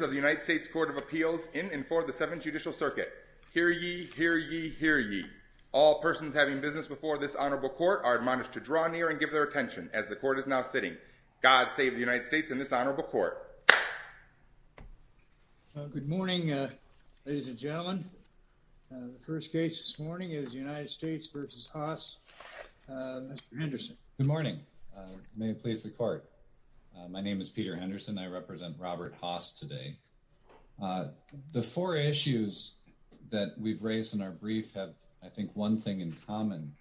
of the United States Court of Appeals, in and for the Seventh Judicial Circuit. Hear ye, hear ye, hear ye. All persons having business before this honorable court are admonished to draw near and give their attention as the court is now sitting. God save the United States and this honorable court. Good morning ladies and gentlemen. The first case this morning is the United States v. Haas. Mr. Henderson. Good morning. May it please the court. My name is Peter Henderson. I represent Robert Haas today. The four issues that we've raised in our brief have, I think, one thing in common,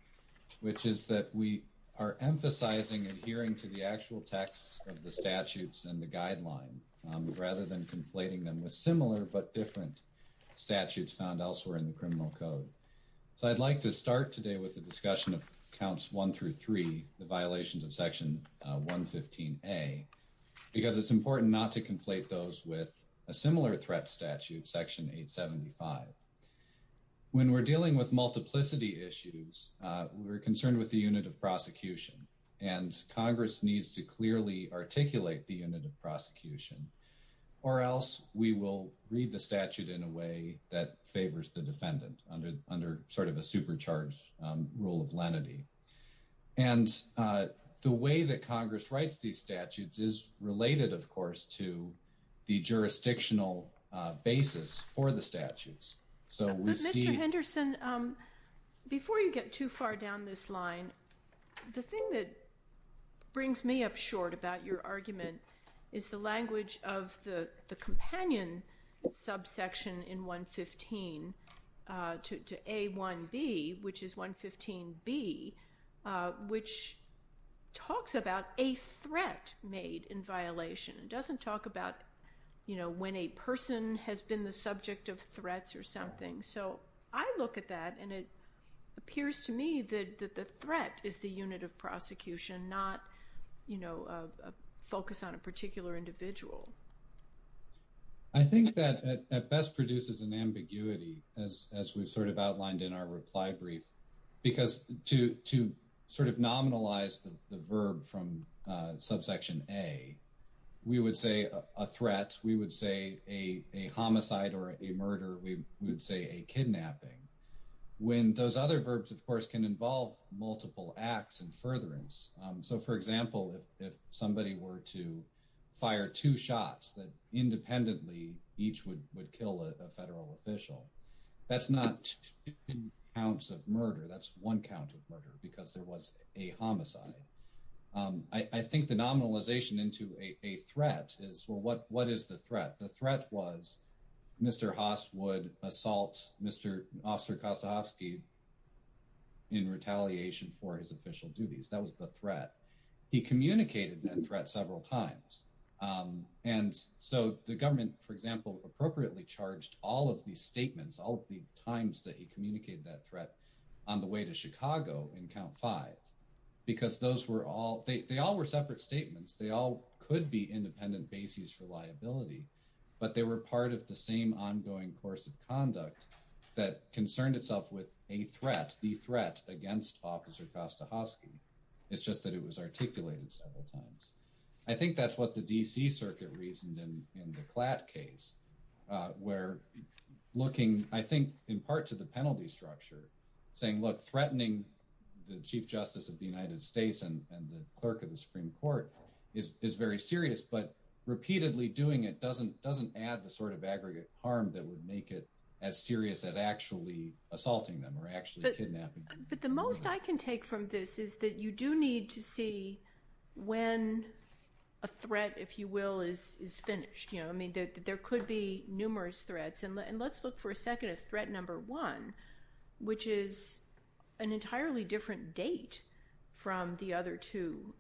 which is that we are emphasizing adhering to the actual text of the statutes and the guideline, rather than conflating them with similar but different statutes found elsewhere in the criminal code. So I'd like to start today with the discussion of counts one through three, the violations of section 115a, because it's important not to conflate those with a similar threat statute, section 875. When we're dealing with multiplicity issues, we're concerned with the unit of prosecution, and Congress needs to clearly articulate the unit of prosecution, or else we will read the statute in a way that favors the defendant under sort of a supercharged rule of lenity. And the way that Congress writes these statutes is related, of course, to the jurisdictional basis for the statutes. Mr. Henderson, before you get too far down this line, the thing that brings me up short about your argument is the language of the companion subsection in 115 to a1b, which is 115b, which talks about a threat made in violation. It doesn't talk about, you know, when a person has been the subject of threats or something. So I look at that, and it appears to me that the threat is the unit of prosecution, not, you know, a focus on a particular individual. I think that at best produces an ambiguity, as we've sort of outlined in our reply brief, because to sort of nominalize the verb from subsection a, we would say a threat, we would say a homicide or a murder, we would say a kidnapping, when those other verbs, of course, can involve multiple acts and furtherance. So, for example, if somebody were to fire two shots that independently each would kill a federal official, that's not two counts of murder, that's one count of murder, because there was a homicide. I think the nominalization into a threat is, well, what is the threat? The threat was Mr. Haas would assault Mr. Officer Kostovsky in retaliation for his official duties. That was the threat. He communicated that threat several times, and so the government, for example, appropriately charged all of these statements, all the times that he communicated that threat on the way to Chicago in count five, because those were all, they all were separate statements, they all could be independent bases for liability, but they were part of the same ongoing course of conduct that concerned itself with a threat, the several times. I think that's what the D.C. Circuit reasoned in the Klatt case, where looking, I think, in part to the penalty structure, saying, look, threatening the Chief Justice of the United States and the Clerk of the Supreme Court is very serious, but repeatedly doing it doesn't add the sort of aggregate harm that would make it as serious as actually assaulting them or actually kidnapping. But the most I can take from this is that you do need to see when a threat, if you will, is finished. I mean, there could be numerous threats, and let's look for a second at threat number one, which is an entirely different date from the other two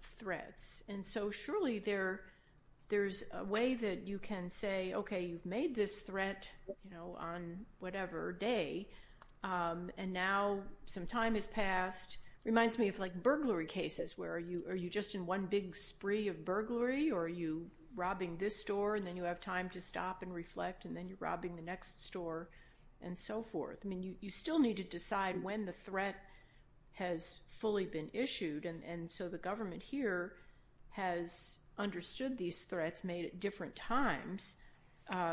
threats, and so surely there's a way that you can say, okay, you've made this threat on whatever day, and now some time has passed. Reminds me of like burglary cases, where are you just in one big spree of burglary, or are you robbing this store, and then you have time to stop and reflect, and then you're robbing the next store, and so forth. I mean, you still need to decide when the threat has fully been issued, and so the government here has understood these threats made at different times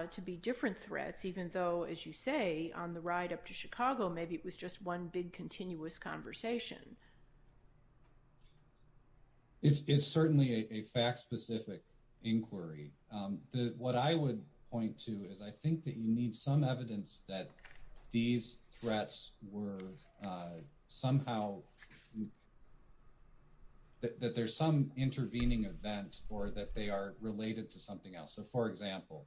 to be different threats, even though, as you say, on the ride up to Chicago, maybe it was just one big continuous conversation. It's certainly a fact-specific inquiry. What I would point to is, I think that you need some evidence that these threats were somehow, that there's some intervening event, or that they are related to something else. For example,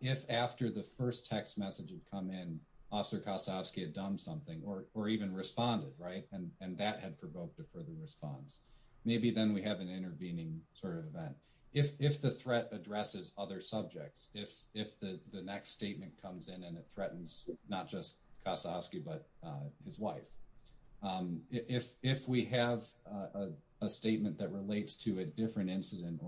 if after the first text message had come in, Officer Kossovsky had done something, or even responded, and that had provoked a further response, maybe then we have an intervening sort of event. If the threat addresses other subjects, if the next statement comes in and it threatens not just Kossovsky, but his wife, if we have a statement that relates to a different subject,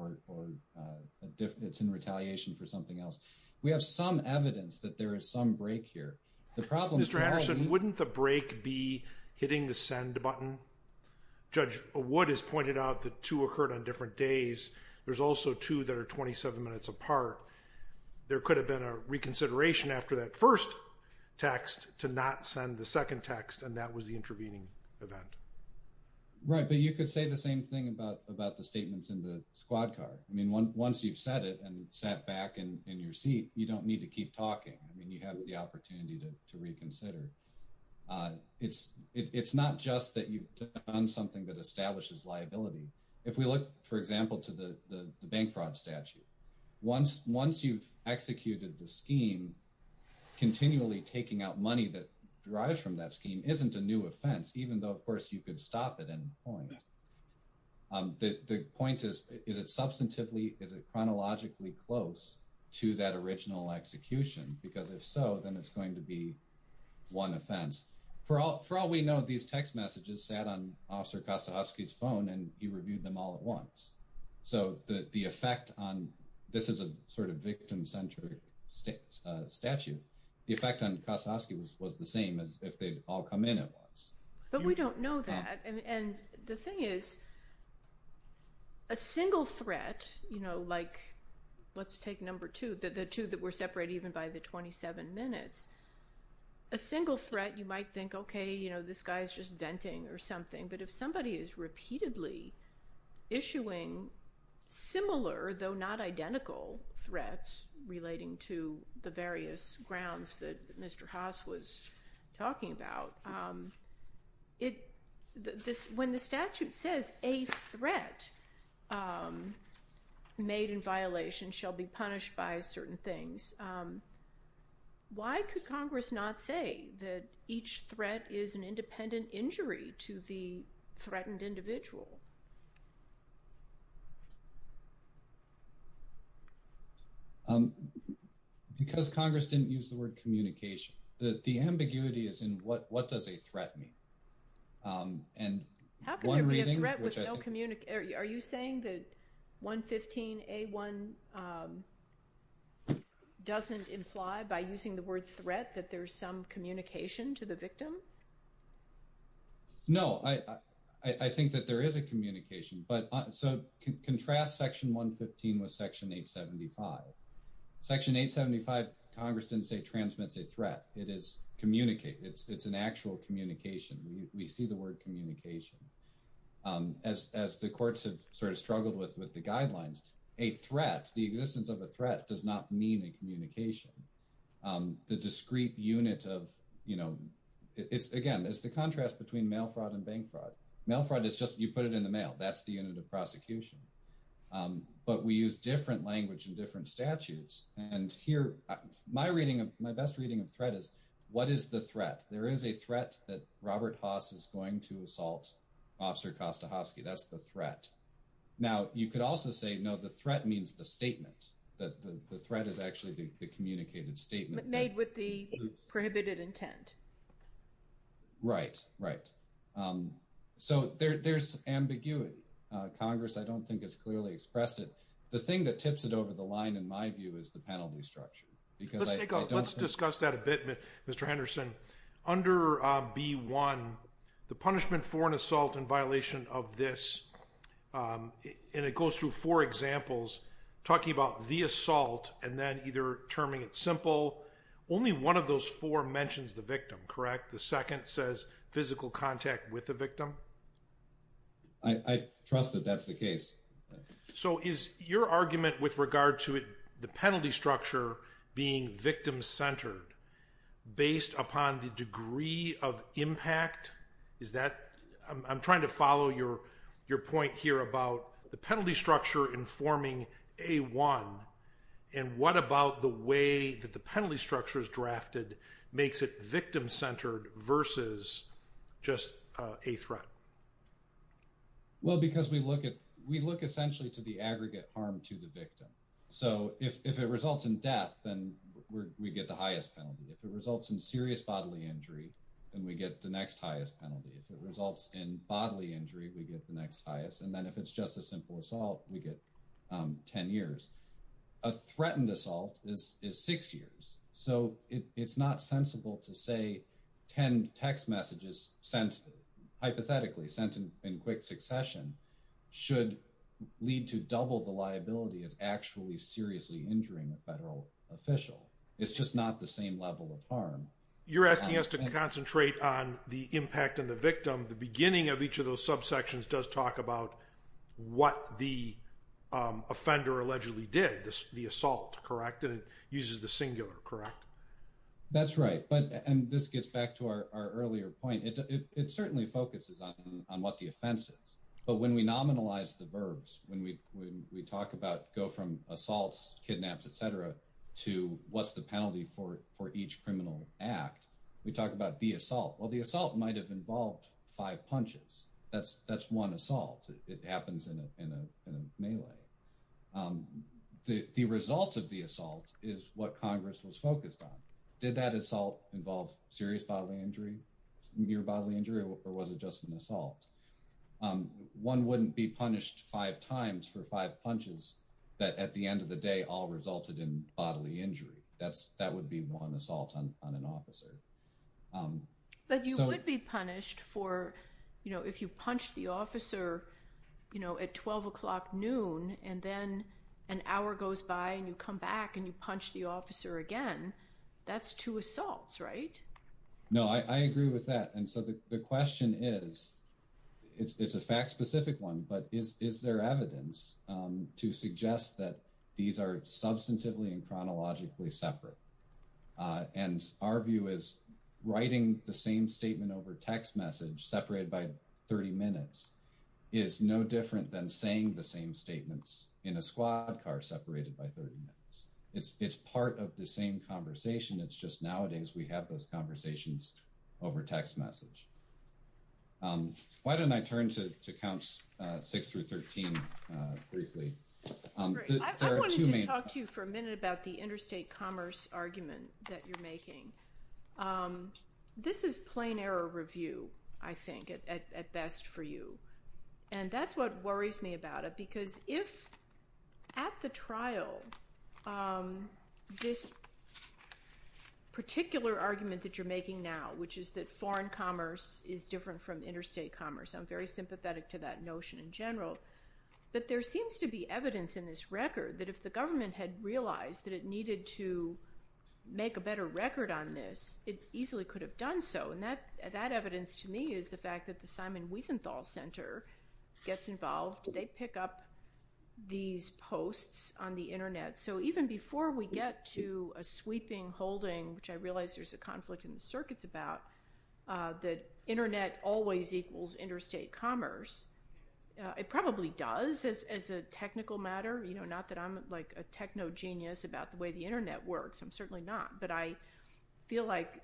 and it's in retaliation for something else, we have some evidence that there is some break here. Mr. Anderson, wouldn't the break be hitting the send button? Judge Wood has pointed out that two occurred on different days. There's also two that are 27 minutes apart. There could have been a reconsideration after that first text to not send the second text, and that was the intervening event. Right, but you could say the same thing about the statements in the squad car. I mean, once you've said it and sat back in your seat, you don't need to keep talking. I mean, you have the opportunity to reconsider. It's not just that you've done something that establishes liability. If we look, for example, to the bank fraud statute, once you've executed the scheme, continually taking out money that derives from that scheme isn't a new offense, even though, of course, you could stop it and point. The point is, is it substantively, is it chronologically close to that original execution? Because if so, then it's going to be one offense. For all we know, these text messages sat on Officer Kossovsky's phone, and he reviewed them all at once. So the effect on, this is a sort of victim-centered statute, the effect on Kossovsky was the same as if they'd all come in at once. But we don't know that. And the thing is, a single threat, you know, like, let's take number two, the two that were separated even by the 27 minutes, a single threat, you might think, okay, you know, this guy's just venting or something. But if somebody is repeatedly issuing similar, though not identical, threats relating to the various grounds that it, this, when the statute says a threat made in violation shall be punished by certain things, why could Congress not say that each threat is an independent injury to the threatened individual? Because Congress didn't use the word communication. The ambiguity is in what does a threat mean? How can there be a threat with no communication? Are you saying that 115A1 doesn't imply by using the word threat that there's some communication to the victim? No, I think that there is a communication, but so contrast section 115 with section 875. Section 875, Congress didn't say threat. It is communicate. It's an actual communication. We see the word communication. As the courts have sort of struggled with the guidelines, a threat, the existence of a threat, does not mean a communication. The discrete unit of, you know, it's, again, it's the contrast between mail fraud and bank fraud. Mail fraud is just, you put it in the mail. That's the unit of prosecution. But we use different language and statutes. And here, my reading of, my best reading of threat is, what is the threat? There is a threat that Robert Haass is going to assault Officer Kostahovsky. That's the threat. Now, you could also say, no, the threat means the statement. That the threat is actually the communicated statement. Made with the prohibited intent. Right, right. So there's ambiguity. Congress, I don't think, has clearly expressed it. The thing that tips it over the line, in my view, is the penalty structure. Let's discuss that a bit, Mr. Henderson. Under B1, the punishment for an assault in violation of this, and it goes through four examples, talking about the assault, and then either terming it simple. Only one of those four mentions the victim, correct? The second says physical contact with the victim? I trust that that's the case. So is your argument with regard to the penalty structure being victim-centered, based upon the degree of impact? Is that, I'm trying to follow your point here about the penalty structure informing A1, and what about the way that the penalty structure is drafted makes it victim-centered versus just a threat? Well, because we look at, we look essentially to the aggregate harm to the victim. So if it results in death, then we get the highest penalty. If it results in serious bodily injury, then we get the next highest penalty. If it results in bodily injury, we get the next highest. And then if it's just a simple assault, we get 10 years. A threatened assault is six years. So it's not sensible to say 10 text messages sent hypothetically, sent in quick succession, should lead to double the liability of actually seriously injuring a federal official. It's just not the same level of harm. You're asking us to concentrate on the impact on the victim. The beginning of each of those subsections does talk about what the offender allegedly did, the assault, correct? And it uses the singular, correct? That's right. But, and this gets back to our earlier point, it certainly focuses on what the offense is. But when we nominalize the verbs, when we talk about, go from assaults, kidnaps, etc., to what's the penalty for each criminal act, we talk about the assault. Well, the assault might have involved five punches. That's one assault. It happens in a the result of the assault is what Congress was focused on. Did that assault involve serious bodily injury, near bodily injury, or was it just an assault? One wouldn't be punished five times for five punches that at the end of the day all resulted in bodily injury. That would be one assault on an officer. But you would be punished for, you know, if you punched the officer, you know, at 12 o'clock noon and then an hour goes by and you come back and you punch the officer again, that's two assaults, right? No, I agree with that. And so the question is, it's a fact-specific one, but is there evidence to suggest that these are substantively and chronologically separate? And our view is writing the same statement over text message separated by 30 minutes is no different than saying the same statements in a squad car separated by 30 minutes. It's part of the same conversation, it's just nowadays we have those conversations over text message. Why don't I turn to counts 6 through 13 briefly. I wanted to talk to you for a minute about the interstate commerce argument that you're making. This is plain error review, I think, at best for you. And that's what worries me about it, because if at the trial this particular argument that you're making now, which is that foreign commerce is different from interstate commerce, I'm very sympathetic to that notion in general, but there seems to be evidence in this record that if the government had realized that it needed to make a better record on this, it easily could have done so. And that evidence to me is the fact that the Simon Wiesenthal Center gets involved. They pick up these posts on the internet. So even before we get to a sweeping holding, which I realize there's a conflict in the circuits about, that internet always equals interstate commerce, it probably does as a technical matter. You know, not that I'm like a techno-genius about the way the internet works, I'm certainly not, but I feel like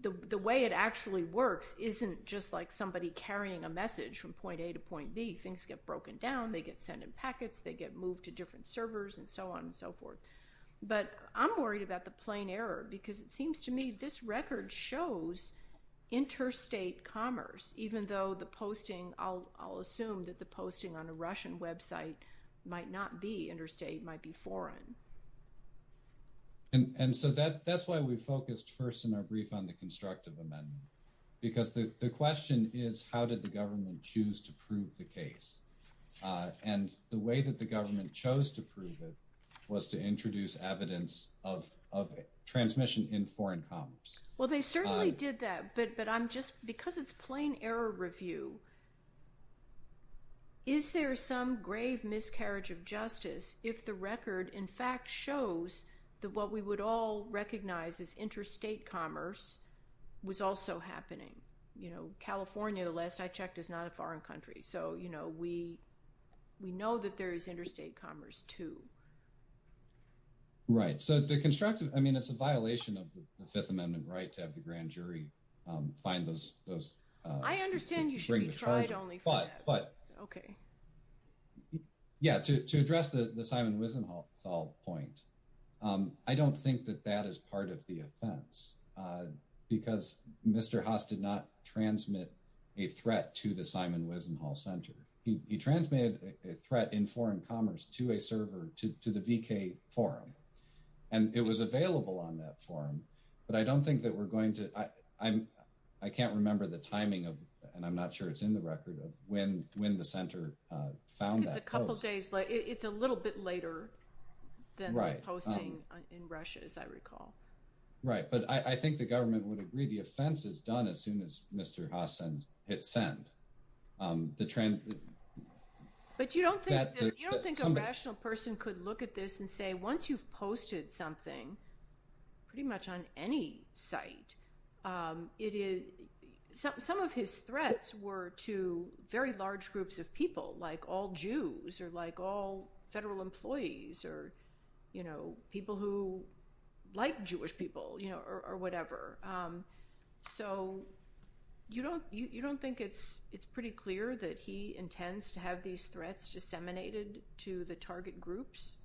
the way it actually works isn't just like somebody carrying a message from point A to point B. Things get broken down, they get sent in packets, they get moved to different servers, and so on and so forth. But I'm worried about the plain error, because it seems to me this record shows interstate commerce, even though the posting, I'll assume that the posting on a Russian website might not be interstate, it might be foreign. And so that's why we focused first in our brief on the constructive amendment, because the question is how did the government choose to prove the case? And the way that the government chose to prove it was to introduce evidence of transmission in foreign commerce. Well they certainly did that, but I'm just, because it's plain error review, is there some grave miscarriage of justice if the record in fact shows that what we would all recognize as interstate commerce was also happening? You know, California, the last I checked, is not a foreign country. So, you know, we we know that there is interstate commerce too. Right, so the constructive, I mean it's a violation of the Fifth Amendment right to have the grand jury find those, I understand you should be tried only for that, but okay. Yeah, to address the Simon Wiesenthal point, I don't think that that is part of the offense, because Mr. Haas did not transmit a threat to the Simon Wiesenthal Center. He transmitted a threat in foreign commerce to a server, to the VK forum, and it was available on that forum, but I don't think that we're going to, I can't remember the timing of, and I'm not sure it's in the record, of when the center found that post. It's a couple days, it's a little bit later than the posting in Russia, as I recall. Right, but I think the government would agree the offense is done as soon as Mr. Haas hit send. But you don't think a rational person could look at this and say, once you've posted something, pretty much on any site, some of his threats were to very large groups of people, like all Jews, or like all federal employees, or people who like Jewish people, or whatever. So you don't think it's pretty clear that he intends to have these threats disseminated to the target groups?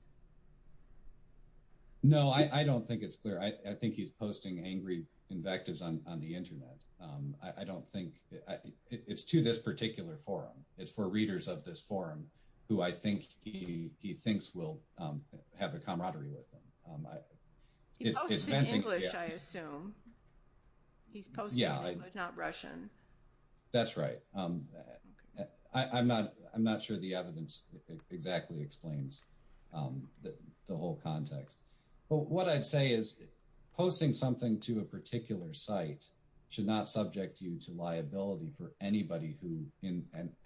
No, I don't think it's clear. I think he's posting angry invectives on the internet. I don't think, it's to this particular forum. It's for readers of this forum who I think he thinks will have a camaraderie with him. He posts in English, I assume. He's posting in English, not Russian. That's right. I'm not sure the evidence exactly explains the whole context. But what I'd say is, posting something to a particular site should not subject you to liability for anybody who,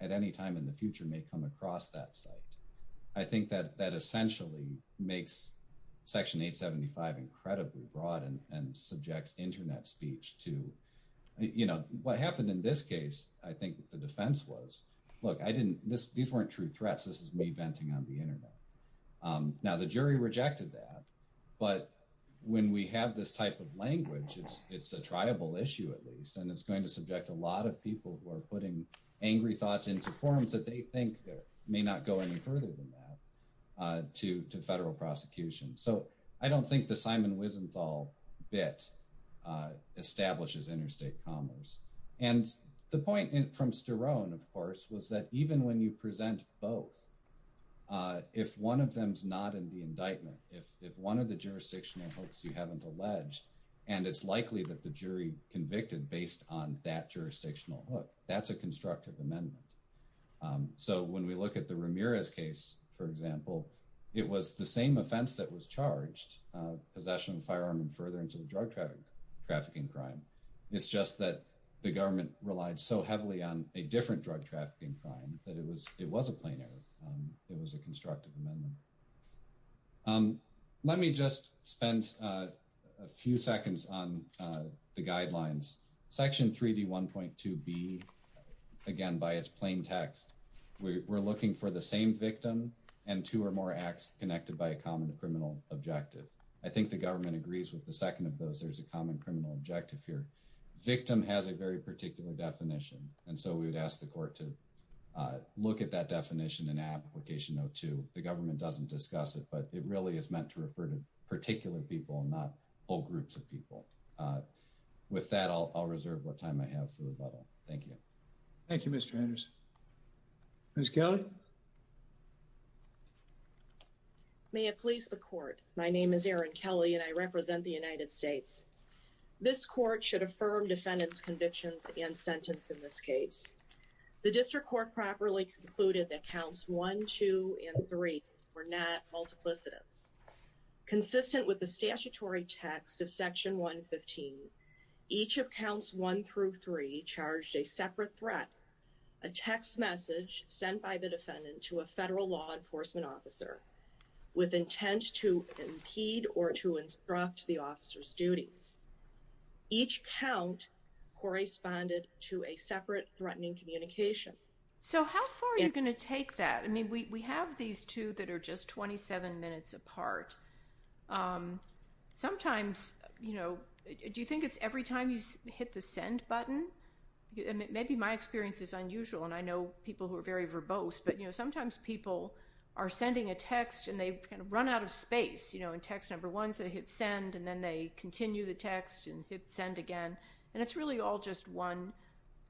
at any time in the future, may come across that site. I think that that essentially makes Section 875 incredibly broad and subjects internet speech to, you know, what happened in this case, I think the defense was, look, I didn't, these weren't true threats. This is me venting on the internet. Now the jury rejected that, but when we have this type of language, it's a triable issue at least, and it's going to subject a lot of people who are putting angry thoughts into forums that they think may not go any further than that to federal prosecution. So I don't think the Simon Wiesenthal bit establishes interstate commerce. And the point from Sterone, of course, was that even when you present both, if one of them's not in the jurisdiction, you haven't alleged, and it's likely that the jury convicted based on that jurisdictional hook. That's a constructive amendment. So when we look at the Ramirez case, for example, it was the same offense that was charged, possession of firearm and furtherance of a drug trafficking crime. It's just that the government relied so heavily on a different drug trafficking crime that it was a plain error. It was a crime that was not a crime. So I think the court spent a few seconds on the guidelines. Section 3D1.2B, again, by its plain text, we're looking for the same victim and two or more acts connected by a common criminal objective. I think the government agrees with the second of those. There's a common criminal objective here. Victim has a very particular definition, and so we would ask the court to look at that definition in application 02. The government doesn't discuss it, but it really is meant to refer to particular people, not whole groups of people. With that, I'll reserve what time I have for rebuttal. Thank you. Thank you, Mr. Anderson. Ms. Kelly? May it please the court. My name is Erin Kelly, and I represent the United States. This court should affirm defendant's convictions and sentence in this case. The district court properly concluded that counts one, two, and three were not multiplicities. Consistent with the statutory text of section 115, each of counts one through three charged a separate threat, a text message sent by the defendant to a federal law enforcement officer with intent to impede or to instruct the officer's duties. Each count corresponded to a separate threatening communication. So how far are you going to take that? I mean, we have these two that are just 27 minutes apart. Sometimes, you know, do you think it's every time you hit the send button? Maybe my experience is unusual, and I know people who are very verbose, but, you know, sometimes people are sending a text and they kind of run out of space, you know, in text number one, so they hit send, and then they continue the text and hit send again, and it's really all just one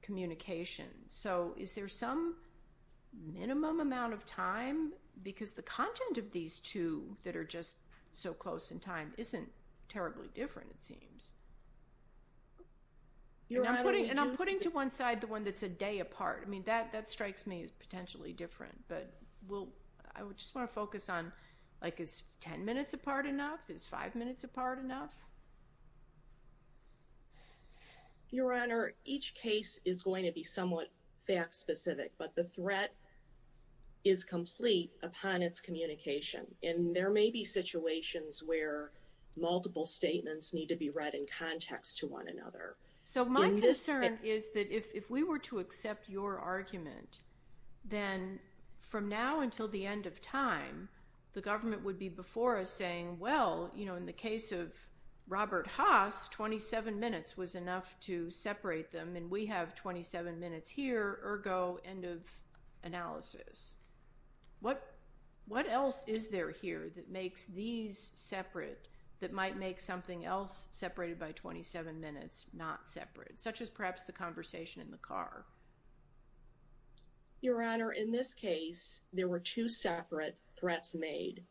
communication. So is there some minimum amount of time? Because the content of these two that are just so close in time isn't terribly different, it seems. And I'm putting to one side the one that's a day apart. I mean, that strikes me as potentially different, but I just want to focus on, like, is 10 minutes apart enough? Is five minutes apart enough? Your Honor, each case is going to be somewhat fact-specific, but the threat is complete upon its communication, and there may be situations where multiple statements need to be read in context to one another. So my concern is that if we were to accept your argument, then from now until the end of time, the government would be before us saying, well, you know, in the case of Robert Haass, 27 minutes was enough to separate them, and we have 27 minutes here, ergo end of analysis. What else is there here that makes these separate that might make something else separated by 27 minutes not separate, such as perhaps the conversation in the car? Your Honor, in this case, there were two separate threats made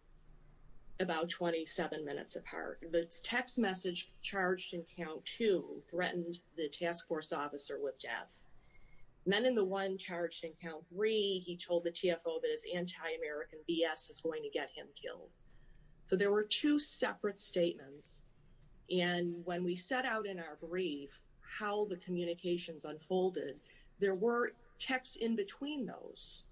about 27 minutes apart. The text message charged in count two threatened the task force officer with death. Then in the one charged in count three, he told the TFO that his anti-American BS is going to get him killed. So there were two separate statements, and when we set out in our brief how the communications unfolded, there were texts in between those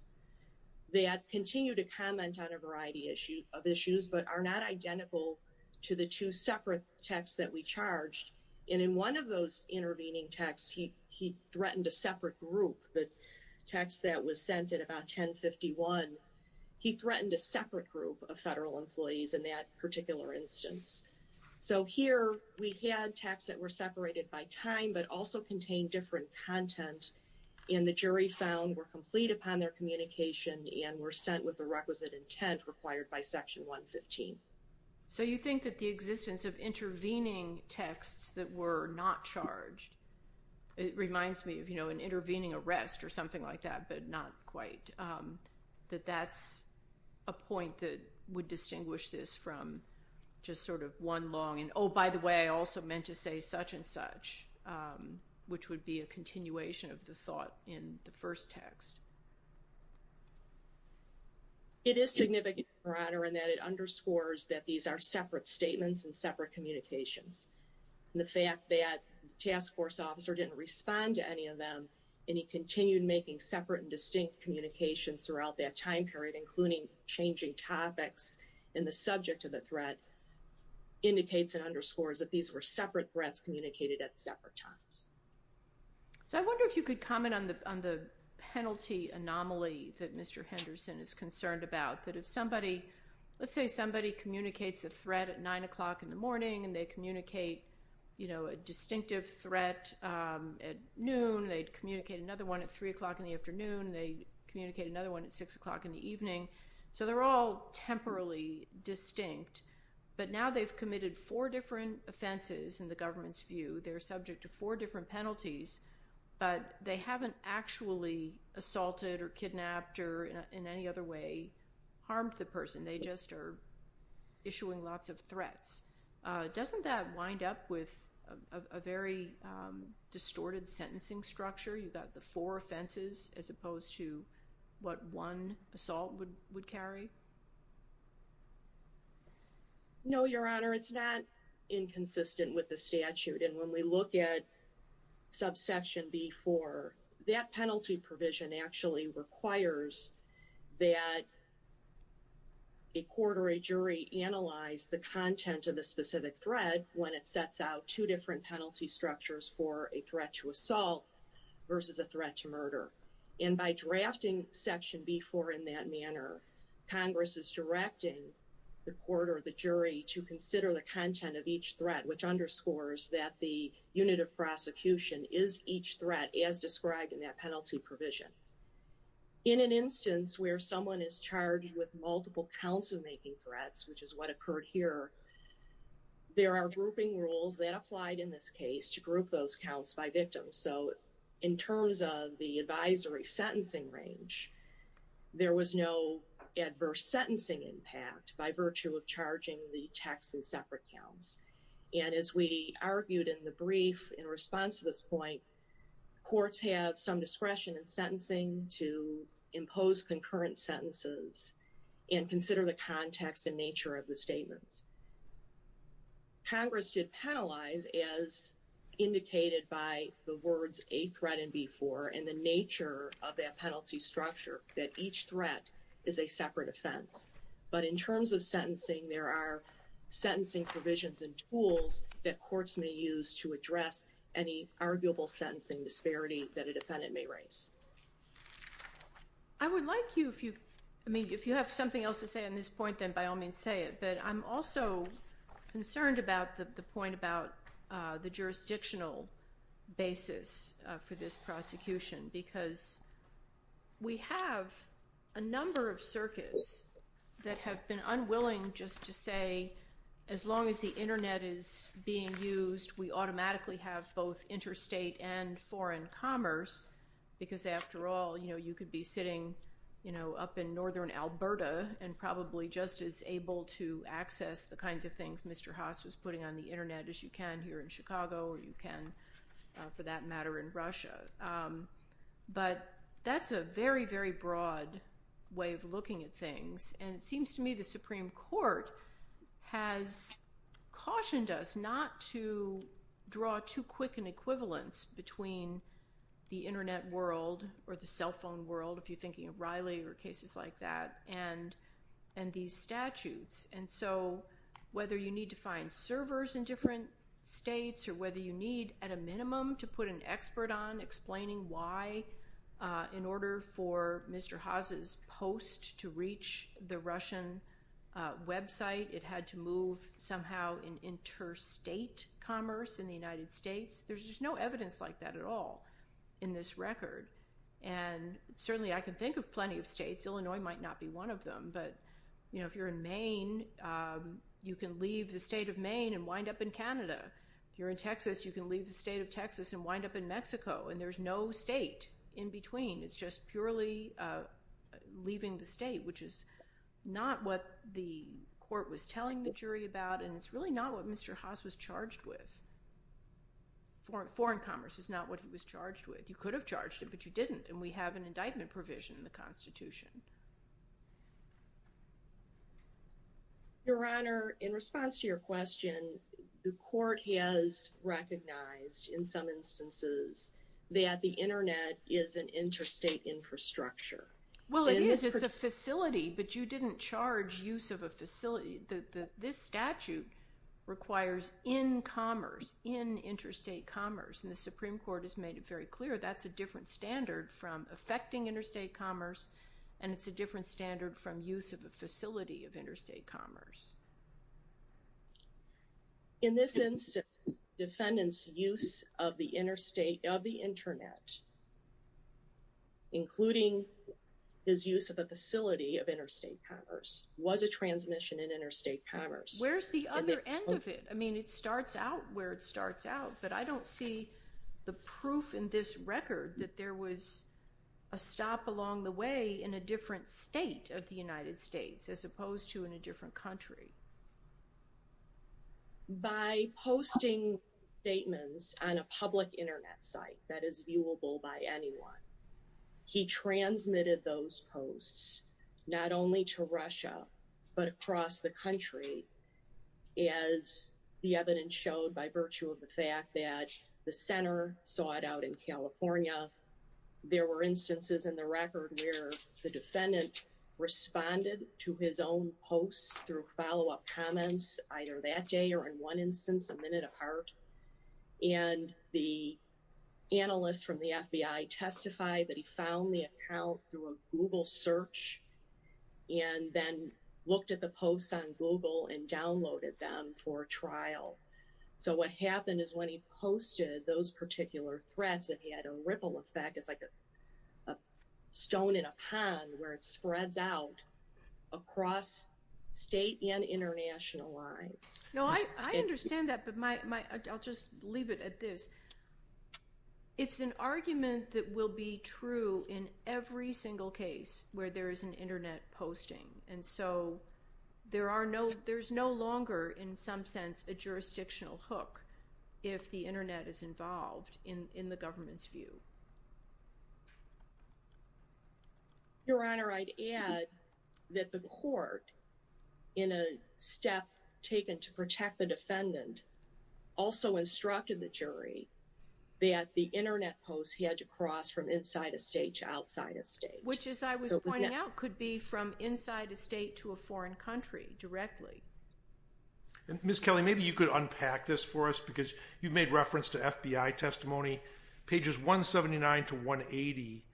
that continue to comment on a variety of issues but are not identical to the two separate texts that we charged. And in one of those intervening texts, he threatened a separate group, the text that was sent at about 1051. He threatened a separate group of federal employees in that particular instance. So here we had texts that were separated by time but also contained different content, and the jury found were complete upon their communication and were sent with the requisite intent required by Section 115. So you think that the existence of intervening texts that were not charged, it reminds me of, you know, an intervening arrest or something like that, but not quite. That that's a point that would distinguish this from just sort of one long, and oh, by the way, I also meant to say such and such, which would be a continuation of the thought in the first text. It is significant, Your Honor, in that it underscores that these are separate statements and separate communications. The fact that the task force officer didn't respond to any of them, and he continued making separate and distinct communications throughout that time period, including changing topics in the threat, indicates and underscores that these were separate threats communicated at separate times. So I wonder if you could comment on the penalty anomaly that Mr. Henderson is concerned about, that if somebody, let's say somebody communicates a threat at nine o'clock in the morning and they communicate, you know, a distinctive threat at noon, they'd communicate another one at three o'clock in the afternoon, they'd communicate another one at six o'clock in the evening. So they're all temporarily distinct, but now they've committed four different offenses in the government's view. They're subject to four different penalties, but they haven't actually assaulted or kidnapped or in any other way harmed the person. They just are issuing lots of threats. Doesn't that wind up with a very distorted sentencing structure? You've got the four offenses as opposed to what one assault would carry? No, Your Honor, it's not inconsistent with the statute. And when we look at subsection B4, that penalty provision actually requires that a court or a jury analyze the content of the specific threat when it sets out two different and by drafting section B4 in that manner, Congress is directing the court or the jury to consider the content of each threat, which underscores that the unit of prosecution is each threat as described in that penalty provision. In an instance where someone is charged with multiple counts of making threats, which is what occurred here, there are grouping rules that applied in this case to group those counts by victims. So in terms of the advisory sentencing range, there was no adverse sentencing impact by virtue of charging the tax and separate counts. And as we argued in the brief in response to this point, courts have some discretion in sentencing to impose concurrent sentences and consider the indicated by the words A threat and B4 and the nature of that penalty structure, that each threat is a separate offense. But in terms of sentencing, there are sentencing provisions and tools that courts may use to address any arguable sentencing disparity that a defendant may raise. I would like you, if you, I mean, if you have something else to say on this point, then by all means say it. But I'm also concerned about the point about the jurisdictional basis for this prosecution. Because we have a number of circuits that have been unwilling just to say, as long as the internet is being used, we automatically have both interstate and foreign commerce. Because after all, you know, you could be sitting, you know, up in northern Alberta and probably just as able to access the kinds of things Mr. Chicago or you can for that matter in Russia. But that's a very, very broad way of looking at things. And it seems to me the Supreme Court has cautioned us not to draw too quick an equivalence between the internet world or the cell phone world, if you're thinking of Riley or cases like that, and these statutes. And so, whether you need to find servers in different states or whether you need at a minimum to put an expert on explaining why in order for Mr. Haase's post to reach the Russian website, it had to move somehow in interstate commerce in the United States. There's just no evidence like that at all in this record. And certainly I can think of plenty of states, Illinois might not be one of them, but, you know, if you're in Maine, you can leave the state of Maine and wind up in Canada. If you're in Texas, you can leave the state of Texas and wind up in Mexico. And there's no state in between. It's just purely leaving the state, which is not what the court was telling the jury about. And it's really not what Mr. Haase was charged with. Foreign commerce is not what he was charged with. You could have charged him, but you didn't. And we have an indictment provision in the Constitution. Your Honor, in response to your question, the court has recognized, in some instances, that the internet is an interstate infrastructure. Well, it is. It's a facility, but you didn't charge use of a facility. This statute requires in commerce, in interstate commerce, and the Supreme Court has made it very clear that's a different standard from affecting interstate commerce, and it's a different standard from use of a facility of interstate commerce. In this instance, defendant's use of the interstate, of the internet, including his use of a facility of interstate commerce, was a transmission in interstate commerce. Where's the other end of it? I mean, it starts out where it starts out, but I don't see the proof in this record that there was a stop along the way in a different state of the United States, as opposed to in a different country. By posting statements on a public internet site that is viewable by anyone, he transmitted those posts not only to Russia, but across the country, as the evidence showed by virtue of the fact that the center saw it out in California. There were instances in the record where the defendant responded to his own posts through follow-up comments, either that day or in one instance, a minute apart, and the analyst from the FBI testified that he found the account through a Google search and then looked at the posts on Google and downloaded them for trial. So what happened is when he posted those particular threads, it had a ripple effect. It's like a stone in a pond where it spreads out across state and international lines. No, I understand that, but I'll just leave it at this. It's an argument that will be true in every single case where there is an internet posting. And so there's no longer, in some sense, a jurisdictional hook if the internet is involved in the government's view. Your Honor, I'd add that the court, in a step taken to protect the defendant, also instructed the jury that the internet posts had to cross from inside a state to outside a state. Which, as I was pointing out, could be from inside a state to a foreign country directly. Ms. Kelly, maybe you could unpack this for us because you've made reference to FBI testimony. Pages 179 to 180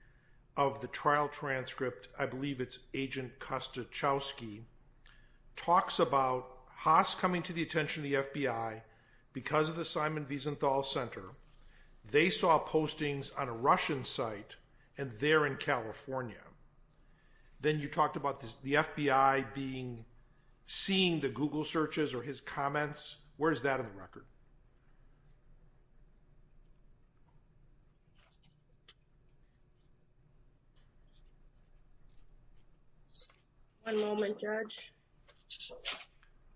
of the trial transcript, I believe it's Agent Kostuchowski, talks about Haas coming to the attention of the FBI because of the Simon Wiesenthal Center. They saw postings on a Russian site and they're in California. Then you talked about the FBI seeing the Google searches or his comments. Where is that in the record? One moment, Judge.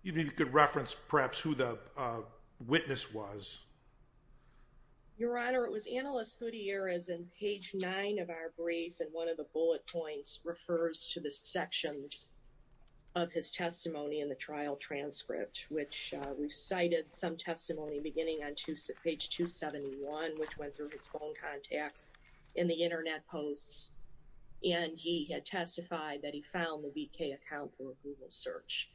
Even if you could reference, perhaps, who the witness was. Your Honor, it was Analyst Gutierrez in page 9 of our brief. And one of the bullet points refers to the sections of his testimony in the trial transcript, which recited some testimony beginning on page 271, which went through his phone contacts in the internet posts. And he had testified that he found the VK account for a Google search.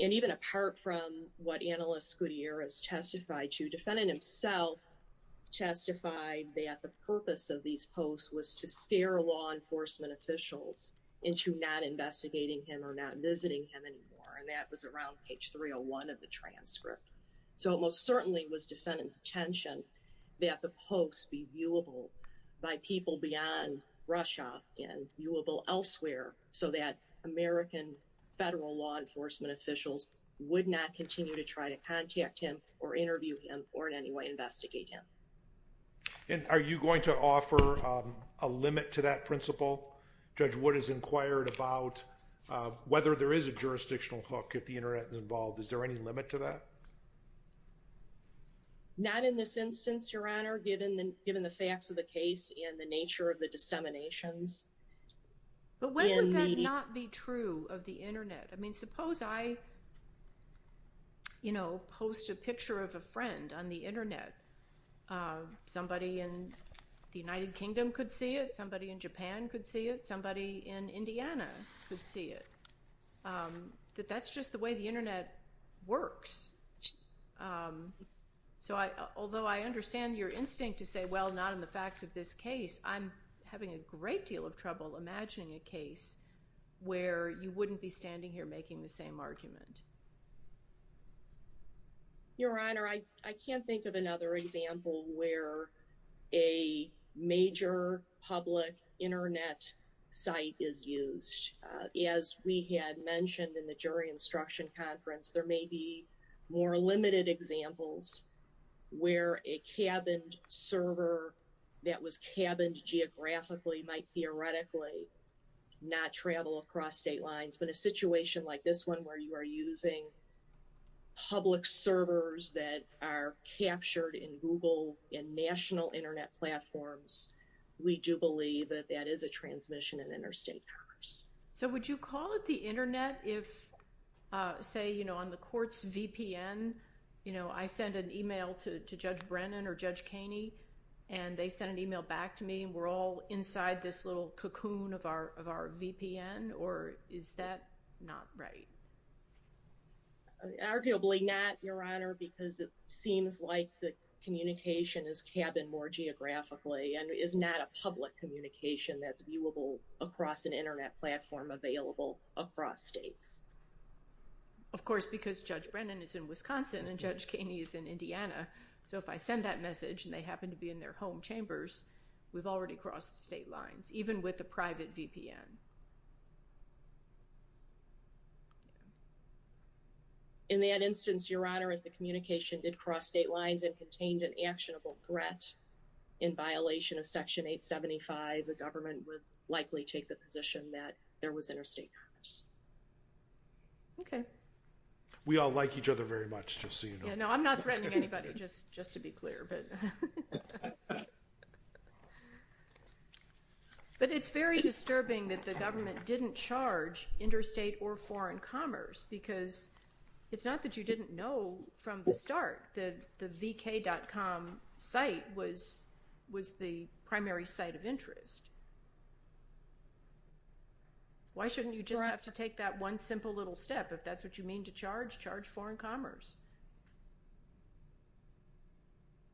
And even apart from what Analyst Gutierrez testified to, defendant himself testified that the purpose of these posts was to scare law enforcement officials into not investigating him or not visiting him anymore. And that was around page 301 of the transcript. So it most certainly was defendant's intention that the posts be viewable by people beyond Russia and viewable elsewhere so that American federal law enforcement officials would not continue to try to contact him or interview him or in any way investigate him. And are you going to offer a limit to that principle? Judge Wood has inquired about whether there is a jurisdictional hook if the internet is involved. Is there any limit to that? Not in this instance, Your Honor, given the facts of the case and the nature of the disseminations. But when would that not be true of the internet? I mean, suppose I, you know, post a picture of a friend on the internet. Uh, somebody in the United Kingdom could see it, somebody in Japan could see it, somebody in Indiana could see it. Um, that that's just the way the internet works. Um, so I, although I understand your instinct to say, well, not in the facts of this case, I'm having a great deal of trouble imagining a case where you wouldn't be standing here making the same argument. Your Honor, I, I can't think of another example where a major public internet site is used. Uh, as we had mentioned in the jury instruction conference, there may be more limited examples where a cabined server that was cabined geographically might theoretically not travel across state lines. But a situation like this one, where you are using public servers that are captured in Google and national internet platforms, we do believe that that is a transmission in interstate commerce. So would you call it the internet if, uh, say, you know, on the court's VPN, you know, I send an email to Judge Brennan or Judge Kaney, and they send an email back to me, we're all inside this little cocoon of our, of our VPN, or is that not right? Arguably not, Your Honor, because it seems like the communication is cabined more geographically and is not a public communication that's viewable across an internet platform available across states. Of course, because Judge Brennan is in Wisconsin and Judge Kaney is in Indiana. So if I send that message and they happen to be in their home chambers, we've already crossed state lines, even with a private VPN. In that instance, Your Honor, if the communication did cross state lines and contained an actionable threat in violation of Section 875, the government would likely take the position that there was interstate commerce. Okay. We all like each other very much, just so you know. No, I'm not threatening anybody, just, just to be clear. Okay. But it's very disturbing that the government didn't charge interstate or foreign commerce, because it's not that you didn't know from the start that the vk.com site was, was the primary site of interest. Why shouldn't you just have to take that one simple little step, if that's what you mean to charge, charge foreign commerce?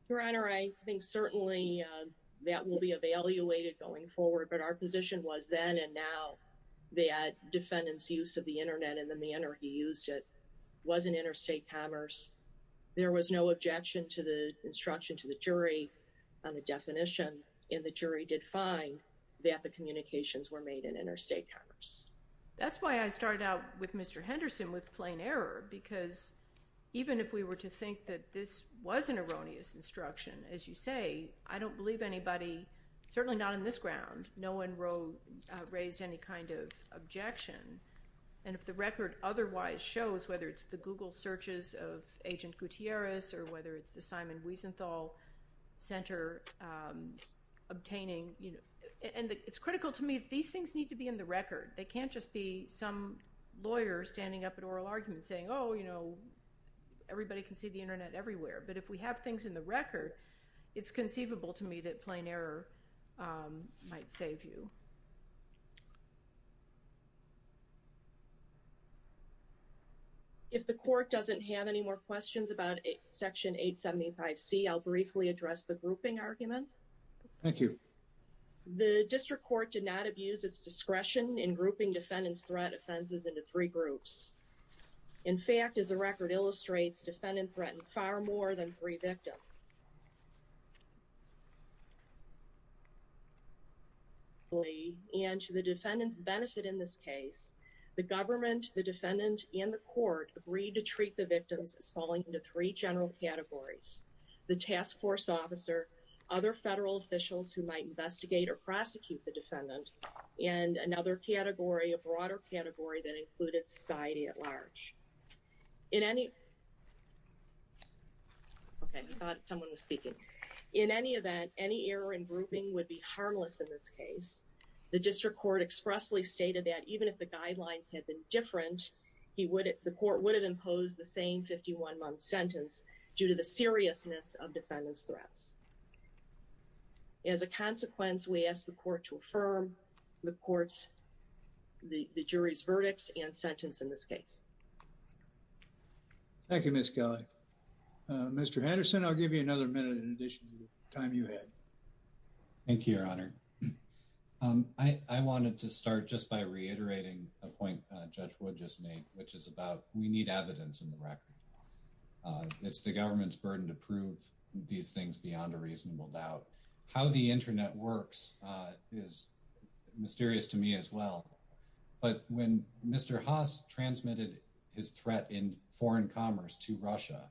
Your Honor, I think certainly that will be evaluated going forward, but our position was then and now that defendant's use of the internet in the manner he used it wasn't interstate commerce. There was no objection to the instruction to the jury on the definition, and the jury did find that the communications were made in interstate commerce. That's why I started out with Mr. Henderson with plain error, because even if we were to think that this was an erroneous instruction, as you say, I don't believe anybody, certainly not on this ground, no one raised any kind of objection. And if the record otherwise shows, whether it's the Google searches of Agent Gutierrez, or whether it's the Simon Wiesenthal Center obtaining, and it's critical to me that these things need to be in the record. They can't just be some lawyer standing up at oral arguments saying, oh, you know, everybody can see the internet everywhere. But if we have things in the record, it's conceivable to me that plain error might save you. If the Court doesn't have any more questions about Section 875C, I'll briefly address the grouping argument. Thank you. The District Court did not abuse its discretion in grouping defendants' threat offenses into three groups. In fact, as the record illustrates, defendants threatened far more than three victims. And to the defendants' benefit in this case, the government, the defendant, and the Court agreed to treat the victims as falling into three general categories. The task force officer, other federal officials who might investigate or prosecute the defendant, and another category, a broader category that included society at large. In any... Okay, I thought someone was speaking. In any event, any error in grouping would be harmless in this case. The District Court expressly stated that even if the guidelines had been different, the Court would have imposed the same 51-month sentence due to the seriousness of defendants' threats. As a consequence, we ask the Court to affirm the Court's, the jury's verdicts and sentence in this case. Thank you, Ms. Kelly. Mr. Henderson, I'll give you another minute in addition to the time you had. Thank you, Your Honor. I wanted to start just by reiterating a point Judge Wood just made, which is about we need evidence in the record. It's the government's burden to prove these things beyond a reasonable doubt. How the internet works is mysterious to me as well, but when Mr. Haas transmitted his threat in foreign commerce to Russia,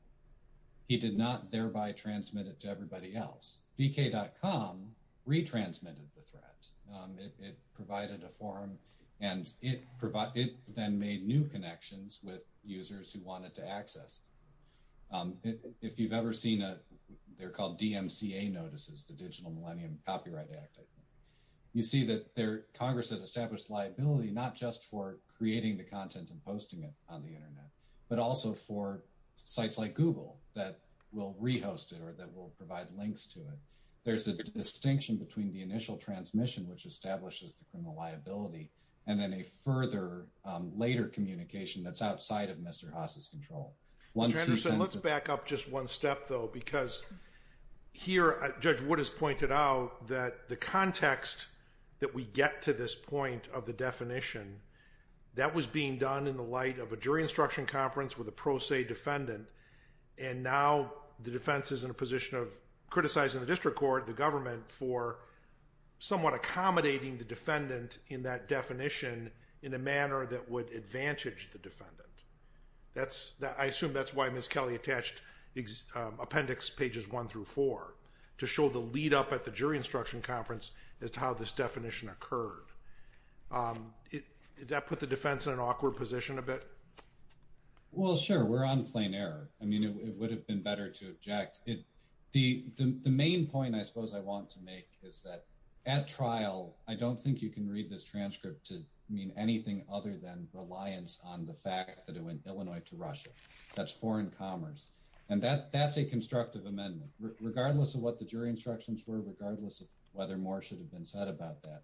he did not thereby transmit it to everybody else. VK.com retransmitted the threat. It provided a forum, and it then made new connections with users who wanted to access it. They're called DMCA notices, the Digital Millennium Copyright Act. You see that Congress has established liability not just for creating the content and posting it on the internet, but also for sites like Google that will re-host it or that will provide links to it. There's a distinction between the initial transmission, which establishes the criminal liability, and then a further later communication that's outside of Mr. Haas's control. Mr. Henderson, let's back up just one step, though, because here Judge Wood has pointed out that the context that we get to this point of the definition, that was being done in the light of a jury instruction conference with a pro se defendant, and now the defense is in a position of the district court, the government, for somewhat accommodating the defendant in that definition in a manner that would advantage the defendant. I assume that's why Ms. Kelly attached appendix pages one through four, to show the lead up at the jury instruction conference as to how this definition occurred. Does that put the defense in an awkward position a bit? Well, sure. We're on plain error. I mean, it would have been better to object. The main point I suppose I want to make is that at trial, I don't think you can read this transcript to mean anything other than reliance on the fact that it went Illinois to Russia. That's foreign commerce. And that's a constructive amendment, regardless of what the jury instructions were, regardless of whether more should have been said about that.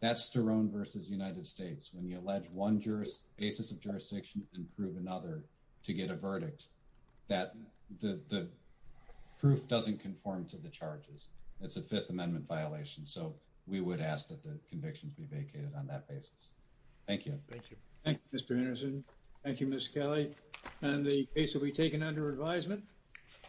That's Sterone versus United States, when you allege one basis of jurisdiction and prove another to get a verdict, that the proof doesn't conform to the charges. It's a Fifth Amendment violation, so we would ask that the convictions be vacated on that basis. Thank you. Thank you, Mr. Anderson. Thank you, Ms. Kelly. And the case will be taken under advisement.